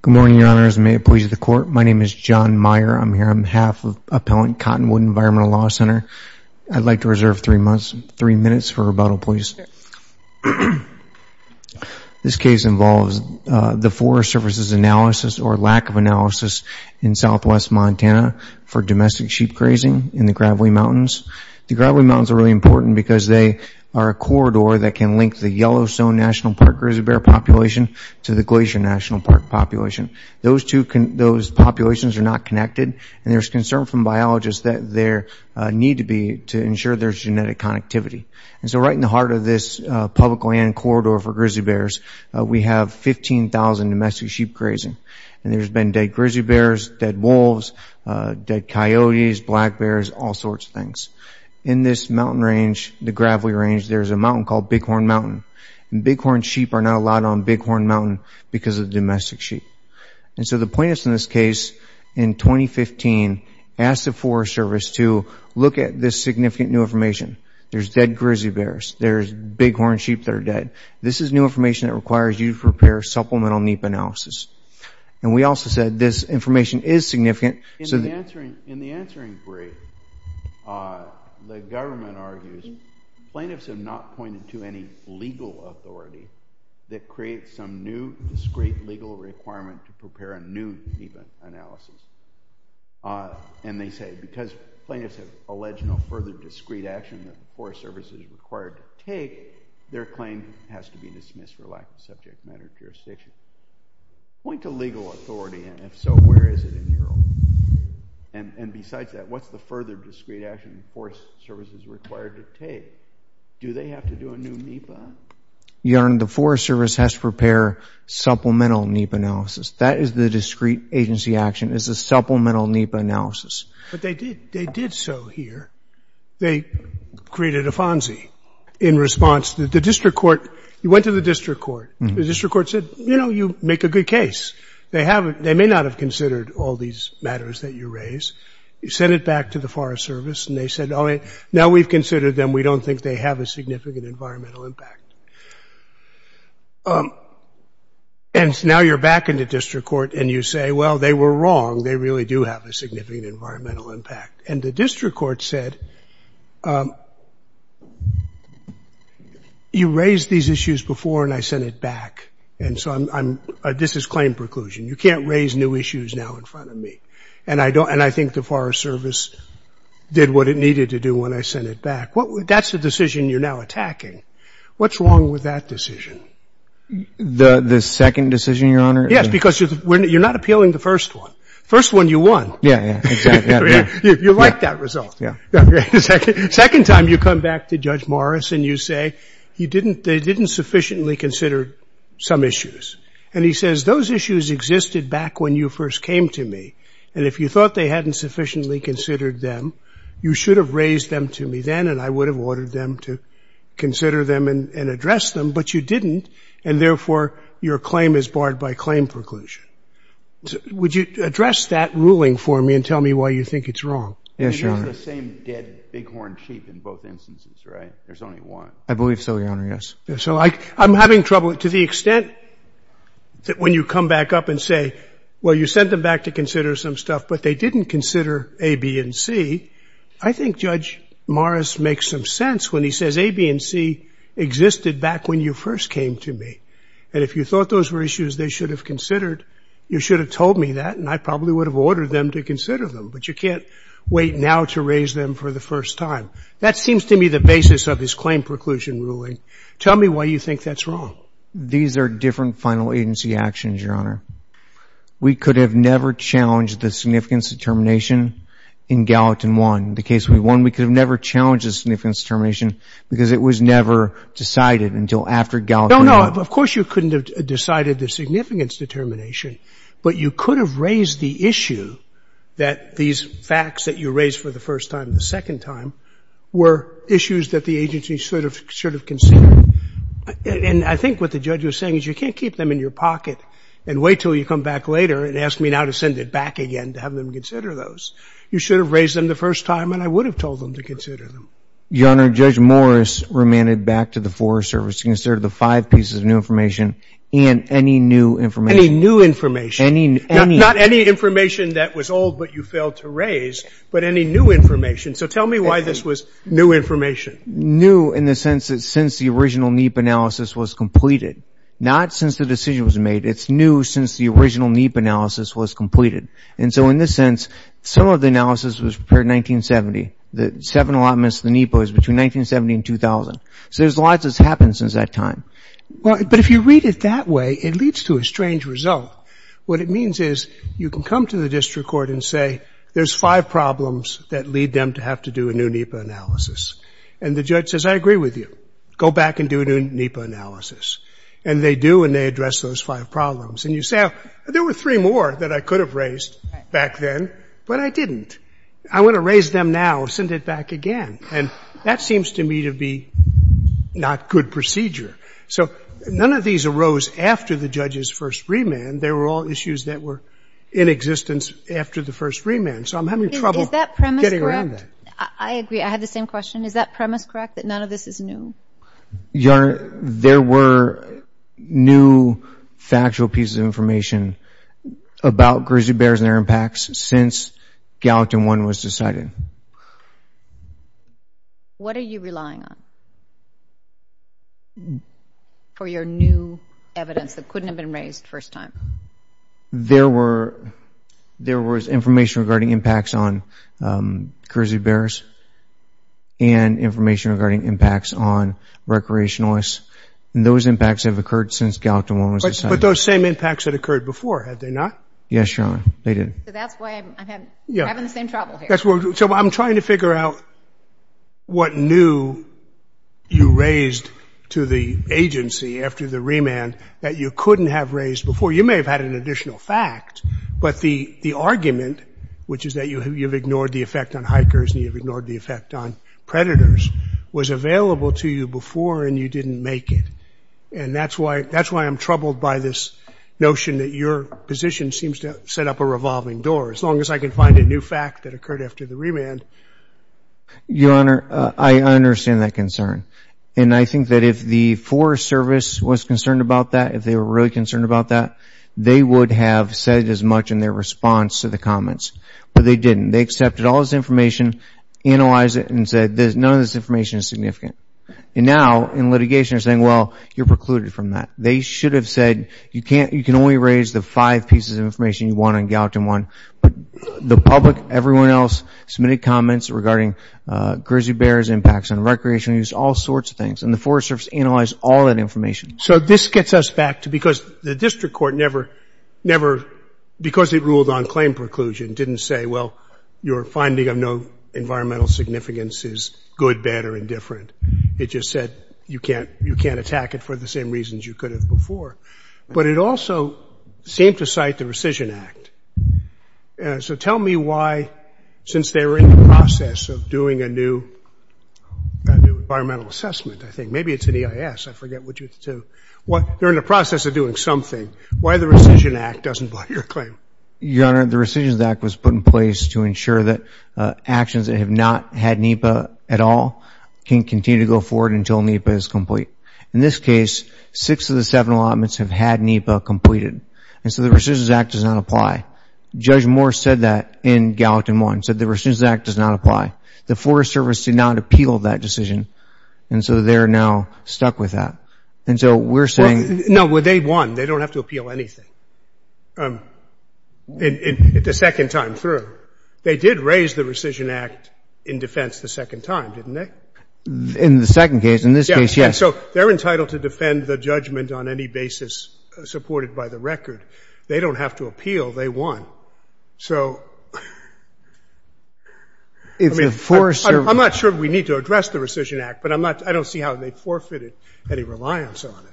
Good morning, Your Honors. May it please the Court, my name is John Meyer. I'm here on behalf of Appellant Cottonwood Environmental Law Center. I'd like to reserve three minutes for rebuttal, please. This case involves the Forest Services analysis or lack of analysis in southwest Montana for domestic sheep grazing in the Gravely Mountains. The Gravely Mountains are really important because they are a corridor that can link the Yellowstone National Park grizzly bear population to the Glacier National Park population. Those populations are not connected and there's concern from biologists that there need to be to ensure there's genetic connectivity. And so right in the heart of this public land corridor for grizzly bears, we have 15,000 domestic sheep grazing. And there's been dead grizzly bears, dead wolves, dead coyotes, black bears, all sorts of things. In this mountain range, the Gravely Range, there's a mountain called Bighorn Mountain. Bighorn sheep are not allowed on Bighorn Mountain because of domestic sheep. And so the plaintiffs in this case, in 2015, asked the Forest Service to look at this significant new information. There's dead grizzly bears, there's bighorn sheep that are dead. This is new information that requires you to prepare supplemental NEPA analysis. And we also said this information is significant. In the answering brief, the government argues plaintiffs have not pointed to any legal authority that creates some new discrete legal requirement to prepare a new NEPA analysis. And they say because plaintiffs have alleged no further discrete action that the Forest Service is required to take, their claim has to be dismissed for lack of subject matter jurisdiction. Point to legal authority, and if so, where is it in Europe? And besides that, what's the further discrete action the Forest Service is required to take? Do they have to do a new NEPA? Your Honor, the Forest Service has to prepare supplemental NEPA analysis. That is the discrete agency action, is the supplemental NEPA analysis. But they did so here. They created a FONSI in response to the district court. You went to the district court. The district court said, you know, you make a good case. They may not have considered all these matters that you raise. You sent it back to the Forest Service, and they said, now we've considered them. We don't think they have a significant environmental impact. And now you're back in the district court, and you say, well, they were wrong. They really do have a significant environmental impact. And the district court said, you raised these issues before, and I sent it back. And so this is claim preclusion. You can't raise new issues now in front of me. And I think the Forest Service did what it needed to do when I sent it back. That's the decision you're now attacking. What's wrong with that decision? The second decision, Your Honor? Yes, because you're not appealing the first one. First one, you won. Yeah, yeah, exactly. You like that result. Yeah. Second time, you come back to Judge Morris, and you say, they didn't sufficiently consider some issues. And he says, those issues existed back when you first came to me. And if you thought they hadn't sufficiently considered them, you should have raised them to me then, and I would have ordered them to consider them and address them. But you didn't, and therefore, your claim is barred by claim preclusion. Would you address that ruling for me and tell me why you think it's wrong? I mean, there's the same dead bighorn sheep in both instances, right? There's only one. I believe so, Your Honor, yes. So I'm having trouble. To the extent that when you come back up and say, well, you sent them back to consider some stuff, but they didn't consider A, B, and C, I think Judge Morris makes some sense when he says A, B, and C existed back when you first came to me. And if you thought those were issues they should have considered, you should have told me that, and I probably would have ordered them to consider them. But you can't wait now to raise them for the first time. That seems to me the basis of his claim preclusion ruling. Tell me why you think that's wrong. These are different final agency actions, Your Honor. We could have never challenged the significance determination in Gallatin I. The case we won, we could have never challenged the significance determination because it was never decided until after Gallatin I. No, no. Of course you couldn't have decided the significance determination, but you could have raised the issue that these facts that you raised for the first time and the second time were issues that the agency should have considered. And I think what the judge was saying is you can't keep them in your pocket and wait until you come back later and ask me now to send it back again to have them consider those. You should have raised them the first time, and I would have told them to consider them. Your Honor, Judge Morris remanded back to the Forest Service to consider the five pieces of new information and any new information. Any new information. Not any information that was old but you failed to raise, but any new information. So tell me why this was new information. New in the sense that since the original NEAP analysis was completed. Not since the decision was made. It's new since the original NEAP analysis was completed. And so in this sense, some of the analysis was prepared in 1970. The seven allotments of the NEAP was between 1970 and 2000. So there's a lot that's happened since that time. But if you read it that way, it leads to a strange result. What it means is you can come to the district court and say, there's five problems that lead them to have to do a new NEAP analysis. And the judge says, I agree with you. Go back and do a new NEAP analysis. And they do, and they address those five problems. And you say, there were three more that I could have raised back then, but I didn't. I want to raise them now, send it back again. And that seems to me to be not good procedure. So none of these arose after the judge's first remand. They were all issues that were in existence after the first remand. So I'm having trouble getting around that. I agree. I have the same question. Is that premise correct, that none of this is new? Your Honor, there were new factual pieces of information about grizzly bears and their impacts since Gallatin 1 was decided. What are you relying on for your new evidence that couldn't have been raised first time? There was information regarding impacts on grizzly bears and information regarding impacts on recreationalists. And those impacts have occurred since Gallatin 1 was decided. But those same impacts had occurred before, had they not? Yes, Your Honor. They did. So that's why I'm having the same trouble here. So I'm trying to figure out what new you raised to the agency after the remand that you couldn't have raised before. You may have had an additional fact. But the argument, which is that you've ignored the effect on hikers and you've ignored the effect on predators, was available to you before and you didn't make it. And that's why I'm troubled by this notion that your position seems to set up a revolving door. As long as I can find a new fact that occurred after the remand. Your Honor, I understand that concern. And I think that if the Forest Service was concerned about that, if they were really concerned about that, they would have said as much in their response to the comments. But they didn't. They accepted all this information, analyzed it, and said none of this information is significant. And now, in litigation, they're saying, well, you're precluded from that. They should have said you can only raise the five pieces of information you want on Gallatin 1. But the public, everyone else, submitted comments regarding grizzly bears, impacts on recreation, all sorts of things. And the Forest Service analyzed all that information. So this gets us back to because the district court never, because it ruled on claim preclusion, didn't say, well, your finding of no environmental significance is good, bad, or indifferent. It just said you can't attack it for the same reasons you could have before. But it also seemed to cite the Rescission Act. So tell me why, since they were in the process of doing a new environmental assessment, I think. Maybe it's an EIS. I forget. They're in the process of doing something. Why the Rescission Act doesn't block your claim? Your Honor, the Rescission Act was put in place to ensure that actions that have not had NEPA at all can continue to go forward until NEPA is complete. In this case, six of the seven allotments have had NEPA completed. And so the Rescission Act does not apply. Judge Moore said that in Gallatin 1, said the Rescission Act does not apply. The Forest Service did not appeal that decision. And so they're now stuck with that. And so we're saying – No, they won. They don't have to appeal anything the second time through. They did raise the Rescission Act in defense the second time, didn't they? In the second case. In this case, yes. So they're entitled to defend the judgment on any basis supported by the record. They don't have to appeal. They won. So if the Forest Service – I'm not sure we need to address the Rescission Act, but I don't see how they forfeited any reliance on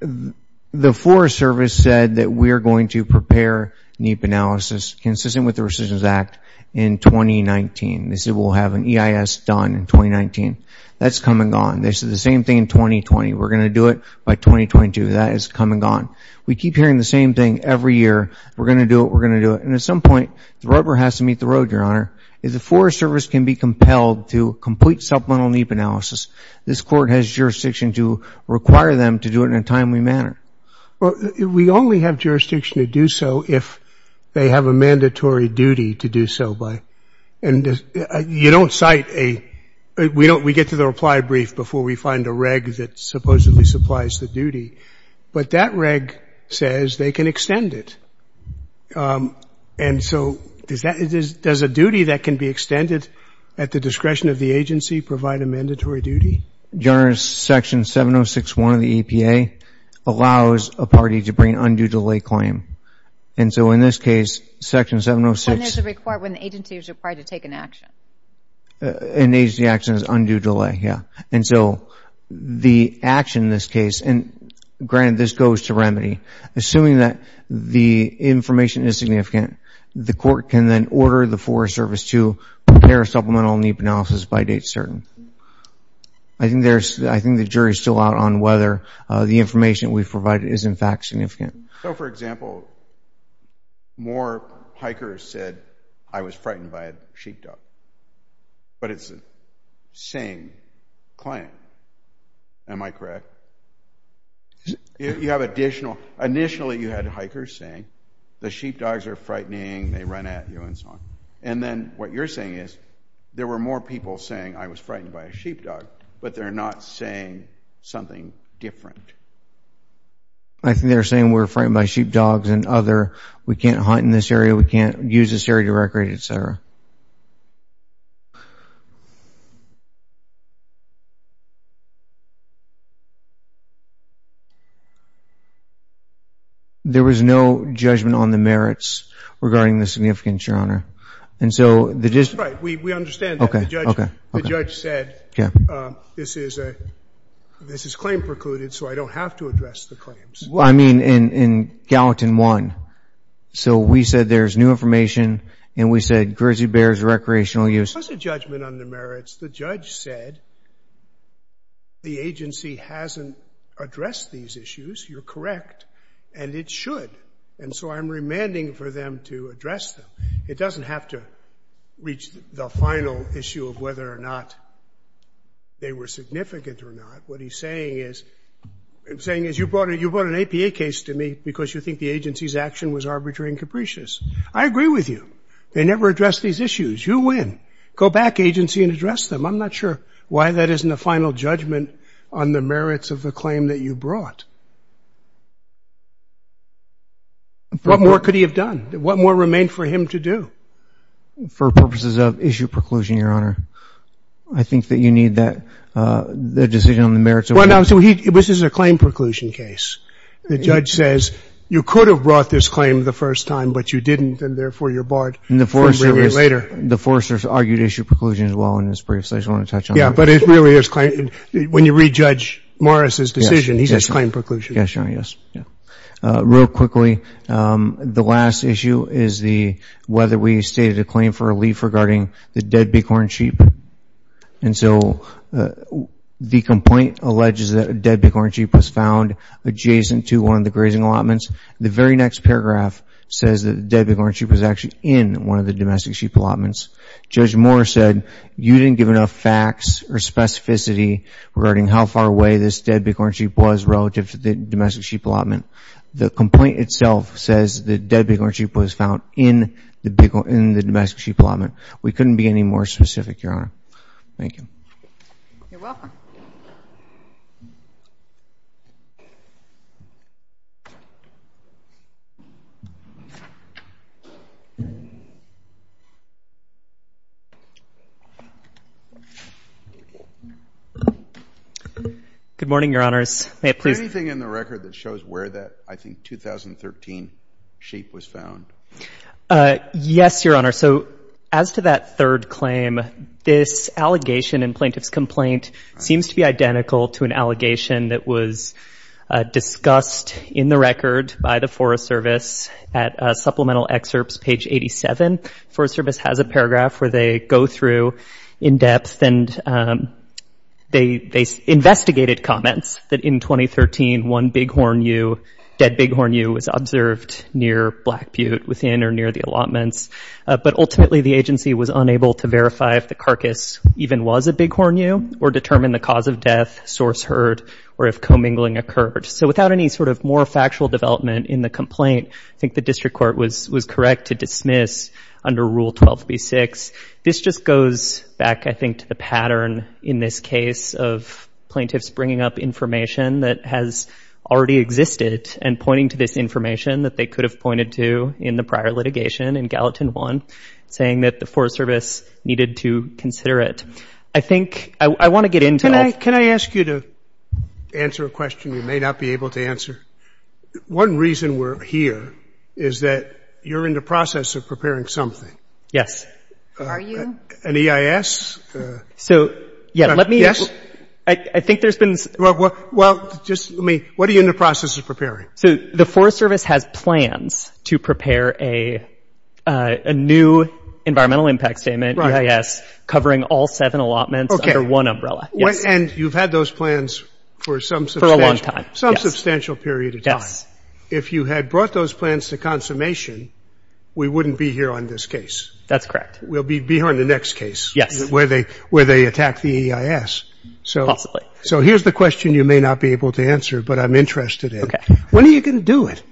it. The Forest Service said that we are going to prepare NEPA analysis consistent with the Rescissions Act in 2019. They said we'll have an EIS done in 2019. That's come and gone. They said the same thing in 2020. We're going to do it by 2022. That has come and gone. We keep hearing the same thing every year. We're going to do it. We're going to do it. And at some point, the rubber has to meet the road, Your Honor. If the Forest Service can be compelled to complete supplemental NEPA analysis, this Court has jurisdiction to require them to do it in a timely manner. We only have jurisdiction to do so if they have a mandatory duty to do so by – and you don't cite a – we get to the reply brief before we find a reg that supposedly supplies the duty. But that reg says they can extend it. And so does a duty that can be extended at the discretion of the agency provide a mandatory duty? Your Honor, Section 706.1 of the EPA allows a party to bring undue delay claim. And so in this case, Section 706. When there's a – when the agency is required to take an action. An agency action is undue delay, yeah. And so the action in this case – and granted, this goes to remedy. Assuming that the information is significant, the Court can then order the Forest Service to prepare supplemental NEPA analysis by date certain. I think there's – I think the jury's still out on whether the information we've provided is in fact significant. So, for example, more hikers said, I was frightened by a sheepdog. But it's the same client. Am I correct? You have additional – initially you had hikers saying, the sheepdogs are frightening, they run at you, and so on. And then what you're saying is, there were more people saying, I was frightened by a sheepdog, but they're not saying something different. I think they're saying we're frightened by sheepdogs and other – we can't hunt in this area, we can't use this area to recreate, et cetera. There was no judgment on the merits regarding the significance, Your Honor. And so the – That's right. We understand that. Okay. Okay. The judge said, this is a – this is claim precluded, so I don't have to address the claims. Well, I mean, in Gallatin 1. So we said there's new information, and we said, grizzly bears are not a threat to the forest. There was a judgment on the merits. The judge said the agency hasn't addressed these issues. You're correct, and it should. And so I'm remanding for them to address them. It doesn't have to reach the final issue of whether or not they were significant or not. What he's saying is – what he's saying is, you brought an APA case to me because you think the agency's action was arbitrary and capricious. I agree with you. They never addressed these issues. You win. Go back, agency, and address them. I'm not sure why that isn't a final judgment on the merits of the claim that you brought. What more could he have done? What more remained for him to do? For purposes of issue preclusion, Your Honor, I think that you need that – the decision on the merits of – Well, no, so he – this is a claim preclusion case. The judge says, you could have brought this claim the first time, but you didn't, and therefore you're barred from bringing it later. And the foresters – the foresters argued issue preclusion as well in this brief, so I just want to touch on that. Yeah, but it really is – when you read Judge Morris's decision, he says claim preclusion. Yes, Your Honor, yes. Real quickly, the last issue is the – whether we stated a claim for a leaf regarding the dead bighorn sheep. And so the complaint alleges that a dead bighorn sheep was found adjacent to one of the grazing allotments. The very next paragraph says that the dead bighorn sheep was actually in one of the domestic sheep allotments. Judge Morris said you didn't give enough facts or specificity regarding how far away this dead bighorn sheep was relative to the domestic sheep allotment. The complaint itself says the dead bighorn sheep was found in the domestic sheep allotment. We couldn't be any more specific, Your Honor. Thank you. You're welcome. Good morning, Your Honors. Is there anything in the record that shows where that, I think, 2013 sheep was found? Yes, Your Honor. So as to that third claim, this allegation in Plaintiff's Complaint seems to be identical to an allegation that was discussed in the record by the Forest Service at Supplemental Excerpts, page 87. Forest Service has a paragraph where they go through in depth and they investigated comments that in 2013 one bighorn ewe, dead bighorn ewe, was observed near Black Butte, within or near the allotments. But ultimately the agency was unable to verify if the carcass even was a bighorn ewe or determine the cause of death, source heard, or if commingling occurred. So without any sort of more factual development in the complaint, I think the district court was correct to dismiss under Rule 12b-6. This just goes back, I think, to the pattern in this case of plaintiffs bringing up information that has already existed and pointing to this information that they could have pointed to in the prior litigation in Gallatin 1, saying that the Forest Service needed to consider it. I think I want to get into all of this. I have a question you may not be able to answer. One reason we're here is that you're in the process of preparing something. Yes. Are you? An EIS? So, yeah, let me – I think there's been – Well, just let me – what are you in the process of preparing? So the Forest Service has plans to prepare a new Environmental Impact Statement, EIS, covering all seven allotments under one umbrella. And you've had those plans for some substantial – For a long time, yes. Some substantial period of time. Yes. If you had brought those plans to consummation, we wouldn't be here on this case. That's correct. We'll be here on the next case. Yes. Where they attack the EIS. Possibly. So here's the question you may not be able to answer, but I'm interested in. Okay. When are you going to do it?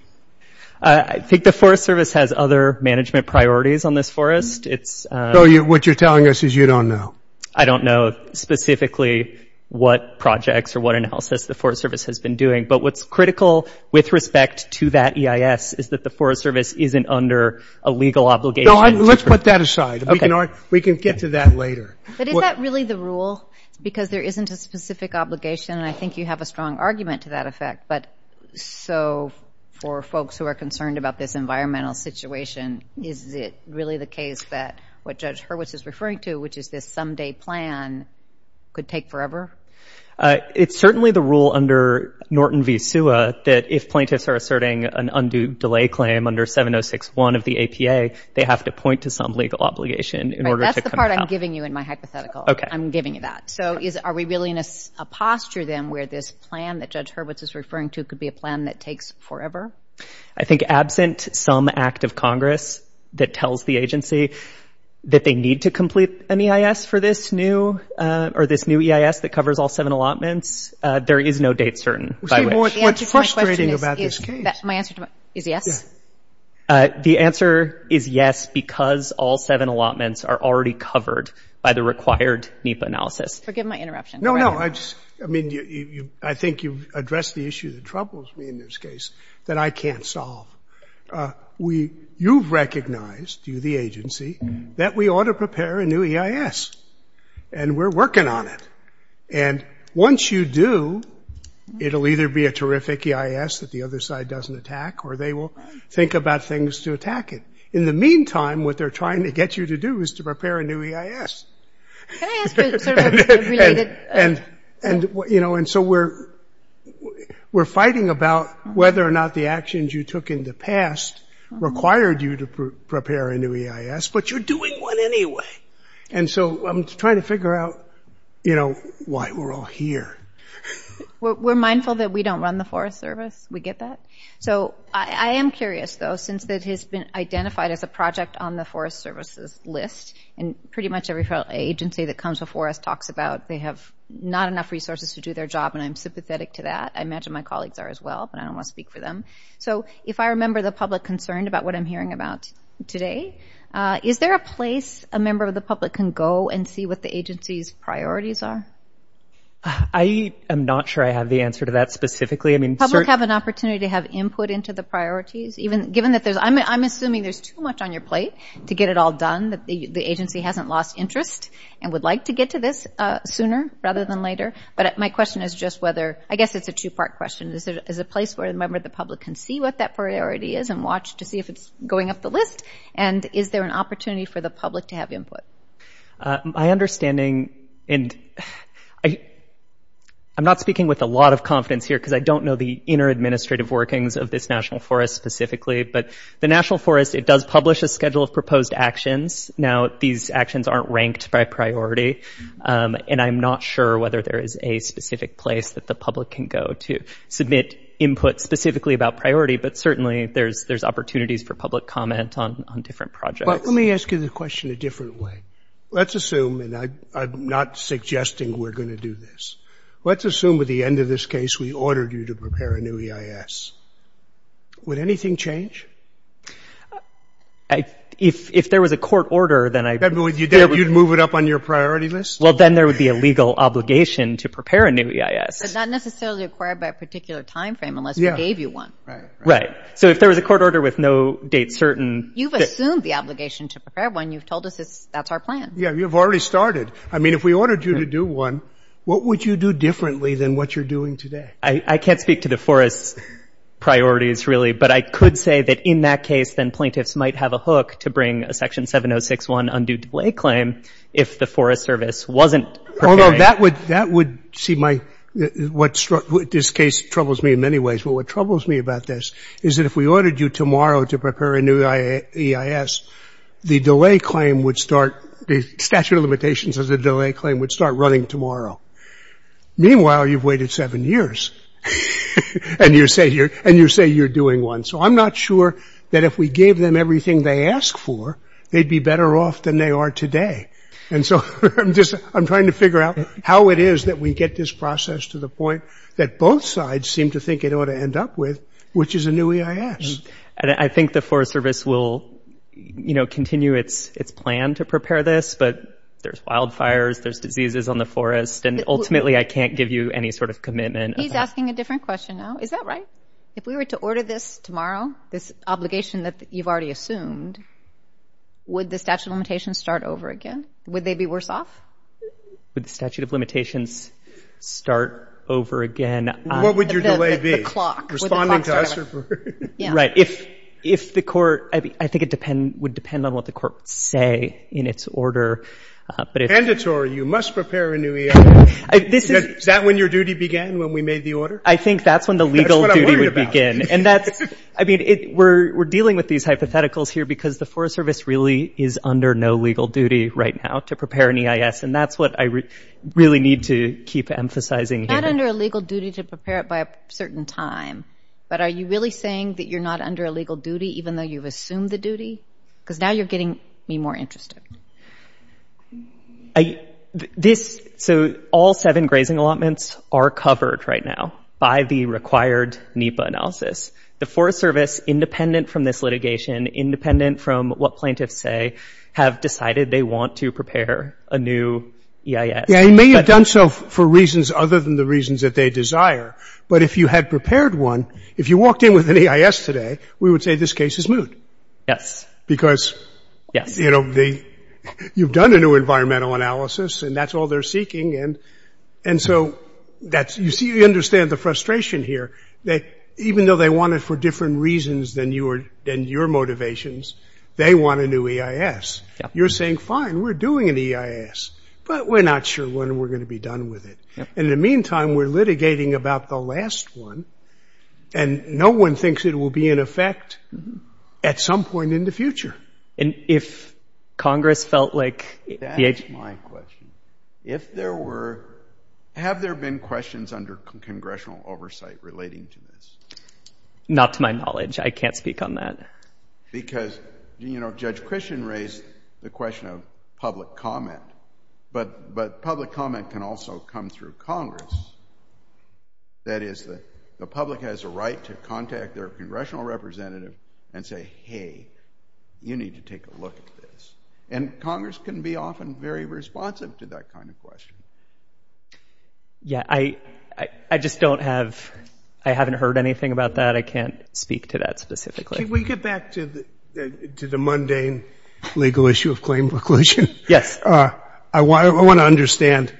I think the Forest Service has other management priorities on this forest. It's – So what you're telling us is you don't know. I don't know specifically what projects or what analysis the Forest Service has been doing. But what's critical with respect to that EIS is that the Forest Service isn't under a legal obligation. No, let's put that aside. Okay. We can get to that later. But is that really the rule? Because there isn't a specific obligation, and I think you have a strong argument to that effect. But so for folks who are concerned about this environmental situation, is it really the case that what Judge Hurwitz is referring to, which is this someday plan, could take forever? It's certainly the rule under Norton v. SUA that if plaintiffs are asserting an undue delay claim under 706.1 of the APA, they have to point to some legal obligation in order to come about. That's the part I'm giving you in my hypothetical. Okay. I'm giving you that. So are we really in a posture then where this plan that Judge Hurwitz is referring to could be a plan that takes forever? I think absent some act of Congress that tells the agency that they need to complete an EIS for this new EIS that covers all seven allotments, there is no date certain by which. The answer to my question is yes. The answer is yes because all seven allotments are already covered by the required NEPA analysis. Forgive my interruption. No, no. I think you've addressed the issue that troubles me in this case that I can't solve. You've recognized, you the agency, that we ought to prepare a new EIS. And we're working on it. And once you do, it will either be a terrific EIS that the other side doesn't attack or they will think about things to attack it. In the meantime, what they're trying to get you to do is to prepare a new EIS. Can I ask you a related question? And so we're fighting about whether or not the actions you took in the past required you to prepare a new EIS, but you're doing one anyway. And so I'm trying to figure out why we're all here. We're mindful that we don't run the Forest Service. We get that. So I am curious, though, since it has been identified as a project on the Forest Service's list and pretty much every agency that comes before us talks about they have not enough resources to do their job, and I'm sympathetic to that. I imagine my colleagues are as well, but I don't want to speak for them. So if I remember the public concerned about what I'm hearing about today, is there a place a member of the public can go and see what the agency's priorities are? I am not sure I have the answer to that specifically. Public have an opportunity to have input into the priorities? I'm assuming there's too much on your plate to get it all done, that the agency hasn't lost interest and would like to get to this sooner rather than later. But my question is just whether, I guess it's a two-part question. Is there a place where a member of the public can see what that priority is and watch to see if it's going up the list? And is there an opportunity for the public to have input? My understanding, and I'm not speaking with a lot of confidence here because I don't know the inner administrative workings of this national forest specifically, but the national forest, it does publish a schedule of proposed actions. Now, these actions aren't ranked by priority, and I'm not sure whether there is a specific place that the public can go to submit input specifically about priority, but certainly there's opportunities for public comment on different projects. Let me ask you the question a different way. Let's assume, and I'm not suggesting we're going to do this, let's assume at the end of this case we ordered you to prepare a new EIS. Would anything change? If there was a court order, then I... You'd move it up on your priority list? Well, then there would be a legal obligation to prepare a new EIS. But not necessarily required by a particular time frame unless we gave you one. Right. So if there was a court order with no date certain... You've assumed the obligation to prepare one. You've told us that's our plan. Yeah, you've already started. I mean, if we ordered you to do one, what would you do differently than what you're doing today? I can't speak to the Forest's priorities, really, but I could say that in that case then plaintiffs might have a hook to bring a Section 706.1 undue delay claim if the Forest Service wasn't preparing... Although that would see my... This case troubles me in many ways, but what troubles me about this is that if we ordered you tomorrow to prepare a new EIS, the delay claim would start... The statute of limitations of the delay claim would start running tomorrow. Meanwhile, you've waited seven years, and you say you're doing one. So I'm not sure that if we gave them everything they ask for, they'd be better off than they are today. And so I'm just... I'm trying to figure out how it is that we get this process to the point that both sides seem to think it ought to end up with, which is a new EIS. I think the Forest Service will continue its plan to prepare this, but there's wildfires, there's diseases on the forest, and ultimately I can't give you any sort of commitment. He's asking a different question now. Is that right? If we were to order this tomorrow, this obligation that you've already assumed, would the statute of limitations start over again? Would they be worse off? Would the statute of limitations start over again? What would your delay be? The clock. Right. If the court... I think it would depend on what the courts say in its order. But if... You must prepare a new EIS. Is that when your duty began, when we made the order? I think that's when the legal duty would begin. And that's... I mean, we're dealing with these hypotheticals here because the Forest Service really is under no legal duty right now to prepare an EIS, and that's what I really need to keep emphasizing here. You're not under a legal duty to prepare it by a certain time, but are you really saying that you're not under a legal duty even though you've assumed the duty? Because now you're getting me more interested. This... So all seven grazing allotments are covered right now by the required NEPA analysis. The Forest Service, independent from this litigation, independent from what plaintiffs say, have decided they want to prepare a new EIS. They may have done so for reasons other than the reasons that they desire, but if you had prepared one, if you walked in with an EIS today, we would say this case is moot. Yes. Because, you know, you've done a new environmental analysis and that's all they're seeking, and so that's... You see, you understand the frustration here. Even though they want it for different reasons than your motivations, they want a new EIS. You're saying, fine, we're doing an EIS, but we're not sure when we're going to be done with it. In the meantime, we're litigating about the last one and no one thinks it will be in effect at some point in the future. And if Congress felt like... That's my question. If there were... Have there been questions under congressional oversight relating to this? Not to my knowledge. I can't speak on that. Because, you know, Judge Christian raised the question of public comment, but public comment can also come through Congress. That is, the public has a right to contact their congressional representative and say, hey, you need to take a look at this. And Congress can be often very responsive to that kind of question. Yeah, I just don't have... I haven't heard anything about that. I can't speak to that specifically. Can we get back to the mundane legal issue of claim preclusion? Yes. I want to understand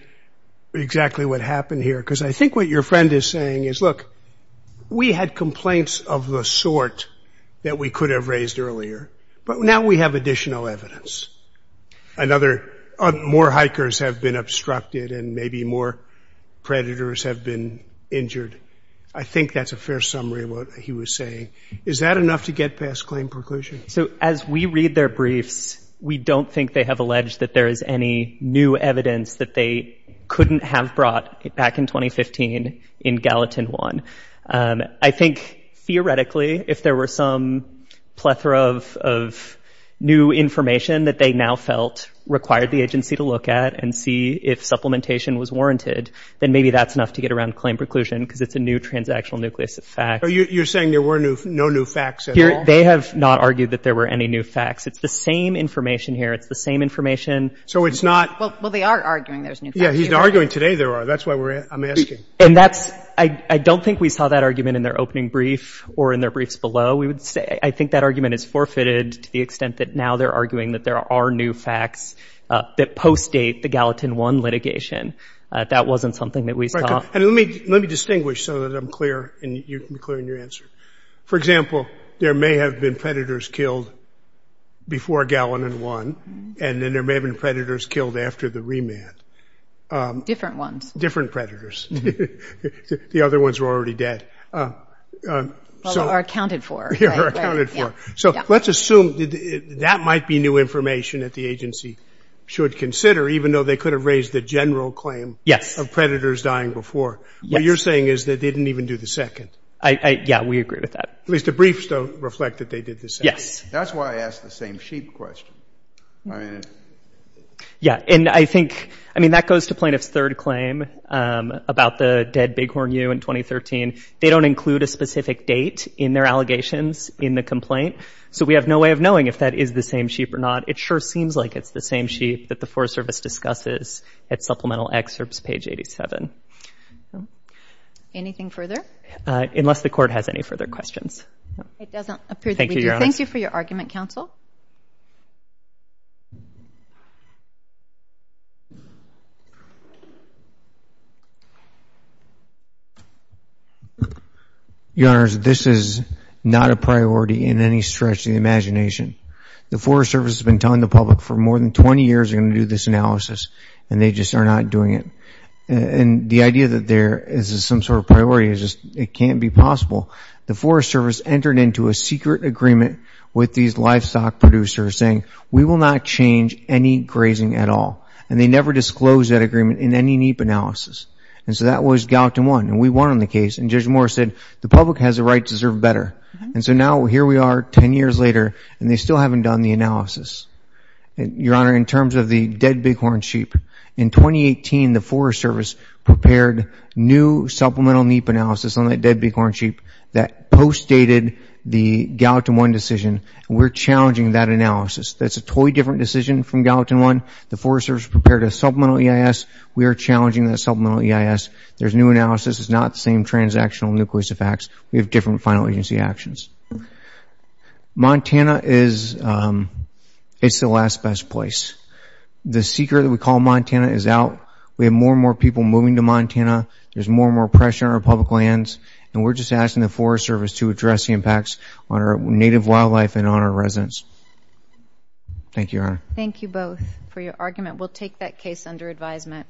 exactly what happened here, because I think what your friend is saying is, look, we had complaints of the sort that we could have raised earlier, but now we have additional evidence. More hikers have been obstructed and maybe more predators have been injured. I think that's a fair summary of what he was saying. Is that enough to get past claim preclusion? So as we read their briefs, we don't think they have alleged that there is any new evidence that they couldn't have brought back in 2015 in Gallatin 1. I think, theoretically, if there were some plethora of new information that they now felt required the agency to look at and see if supplementation was warranted, then maybe that's enough to get around claim preclusion, because it's a new transactional nucleus of facts. You're saying there were no new facts at all? They have not argued that there were any new facts. It's the same information here. It's the same information. So it's not — Well, they are arguing there's new facts. Yeah, he's arguing today there are. That's why I'm asking. And that's — I don't think we saw that argument in their opening brief or in their briefs below. I think that argument is forfeited to the extent that now they're arguing that there are new facts that post-date the Gallatin 1 litigation. That wasn't something that we saw. Let me distinguish so that I'm clear in your answer. For example, there may have been predators killed before Gallatin 1, and then there may have been predators killed after the remand. Different ones. Different predators. The other ones were already dead. Or accounted for. Or accounted for. So let's assume that might be new information that the agency should consider, even though they could have raised the general claim of predators dying before. Yes. What you're saying is that they didn't even do the second. Yeah, we agree with that. At least the briefs don't reflect that they did the second. Yes. That's why I asked the same sheep question. Yeah, and I think — I mean, that goes to plaintiff's third claim about the dead bighorn ewe in 2013. They don't include a specific date in their allegations in the complaint, so we have no way of knowing if that is the same sheep or not. It sure seems like it's the same sheep that the Forest Service discusses at supplemental excerpts, page 87. Anything further? Unless the Court has any further questions. It doesn't appear that we do. Thank you, Your Honor. Thank you for your argument, Counsel. Your Honors, this is not a priority in any stretch of the imagination. The Forest Service has been telling the public for more than 20 years they're going to do this analysis, and they just are not doing it. And the idea that there is some sort of priority is just it can't be possible. The Forest Service entered into a secret agreement with these livestock producers saying we will not change any grazing at all, and they never disclosed that agreement in any NEEP analysis. And so that was Gallatin 1, and we won on the case. And Judge Moore said the public has a right to serve better. And so now here we are 10 years later, and they still haven't done the analysis. Your Honor, in terms of the dead bighorn sheep, in 2018 the Forest Service prepared new supplemental NEEP analysis on that dead bighorn sheep that postdated the Gallatin 1 decision. We're challenging that analysis. That's a totally different decision from Gallatin 1. The Forest Service prepared a supplemental EIS. We are challenging that supplemental EIS. There's new analysis. It's not the same transactional nucleus of facts. We have different final agency actions. Montana is the last best place. The secret that we call Montana is out. We have more and more people moving to Montana. There's more and more pressure on our public lands, and we're just asking the Forest Service to address the impacts on our native wildlife and on our residents. Thank you, Your Honor. Thank you both for your argument. We'll take that case under advisement.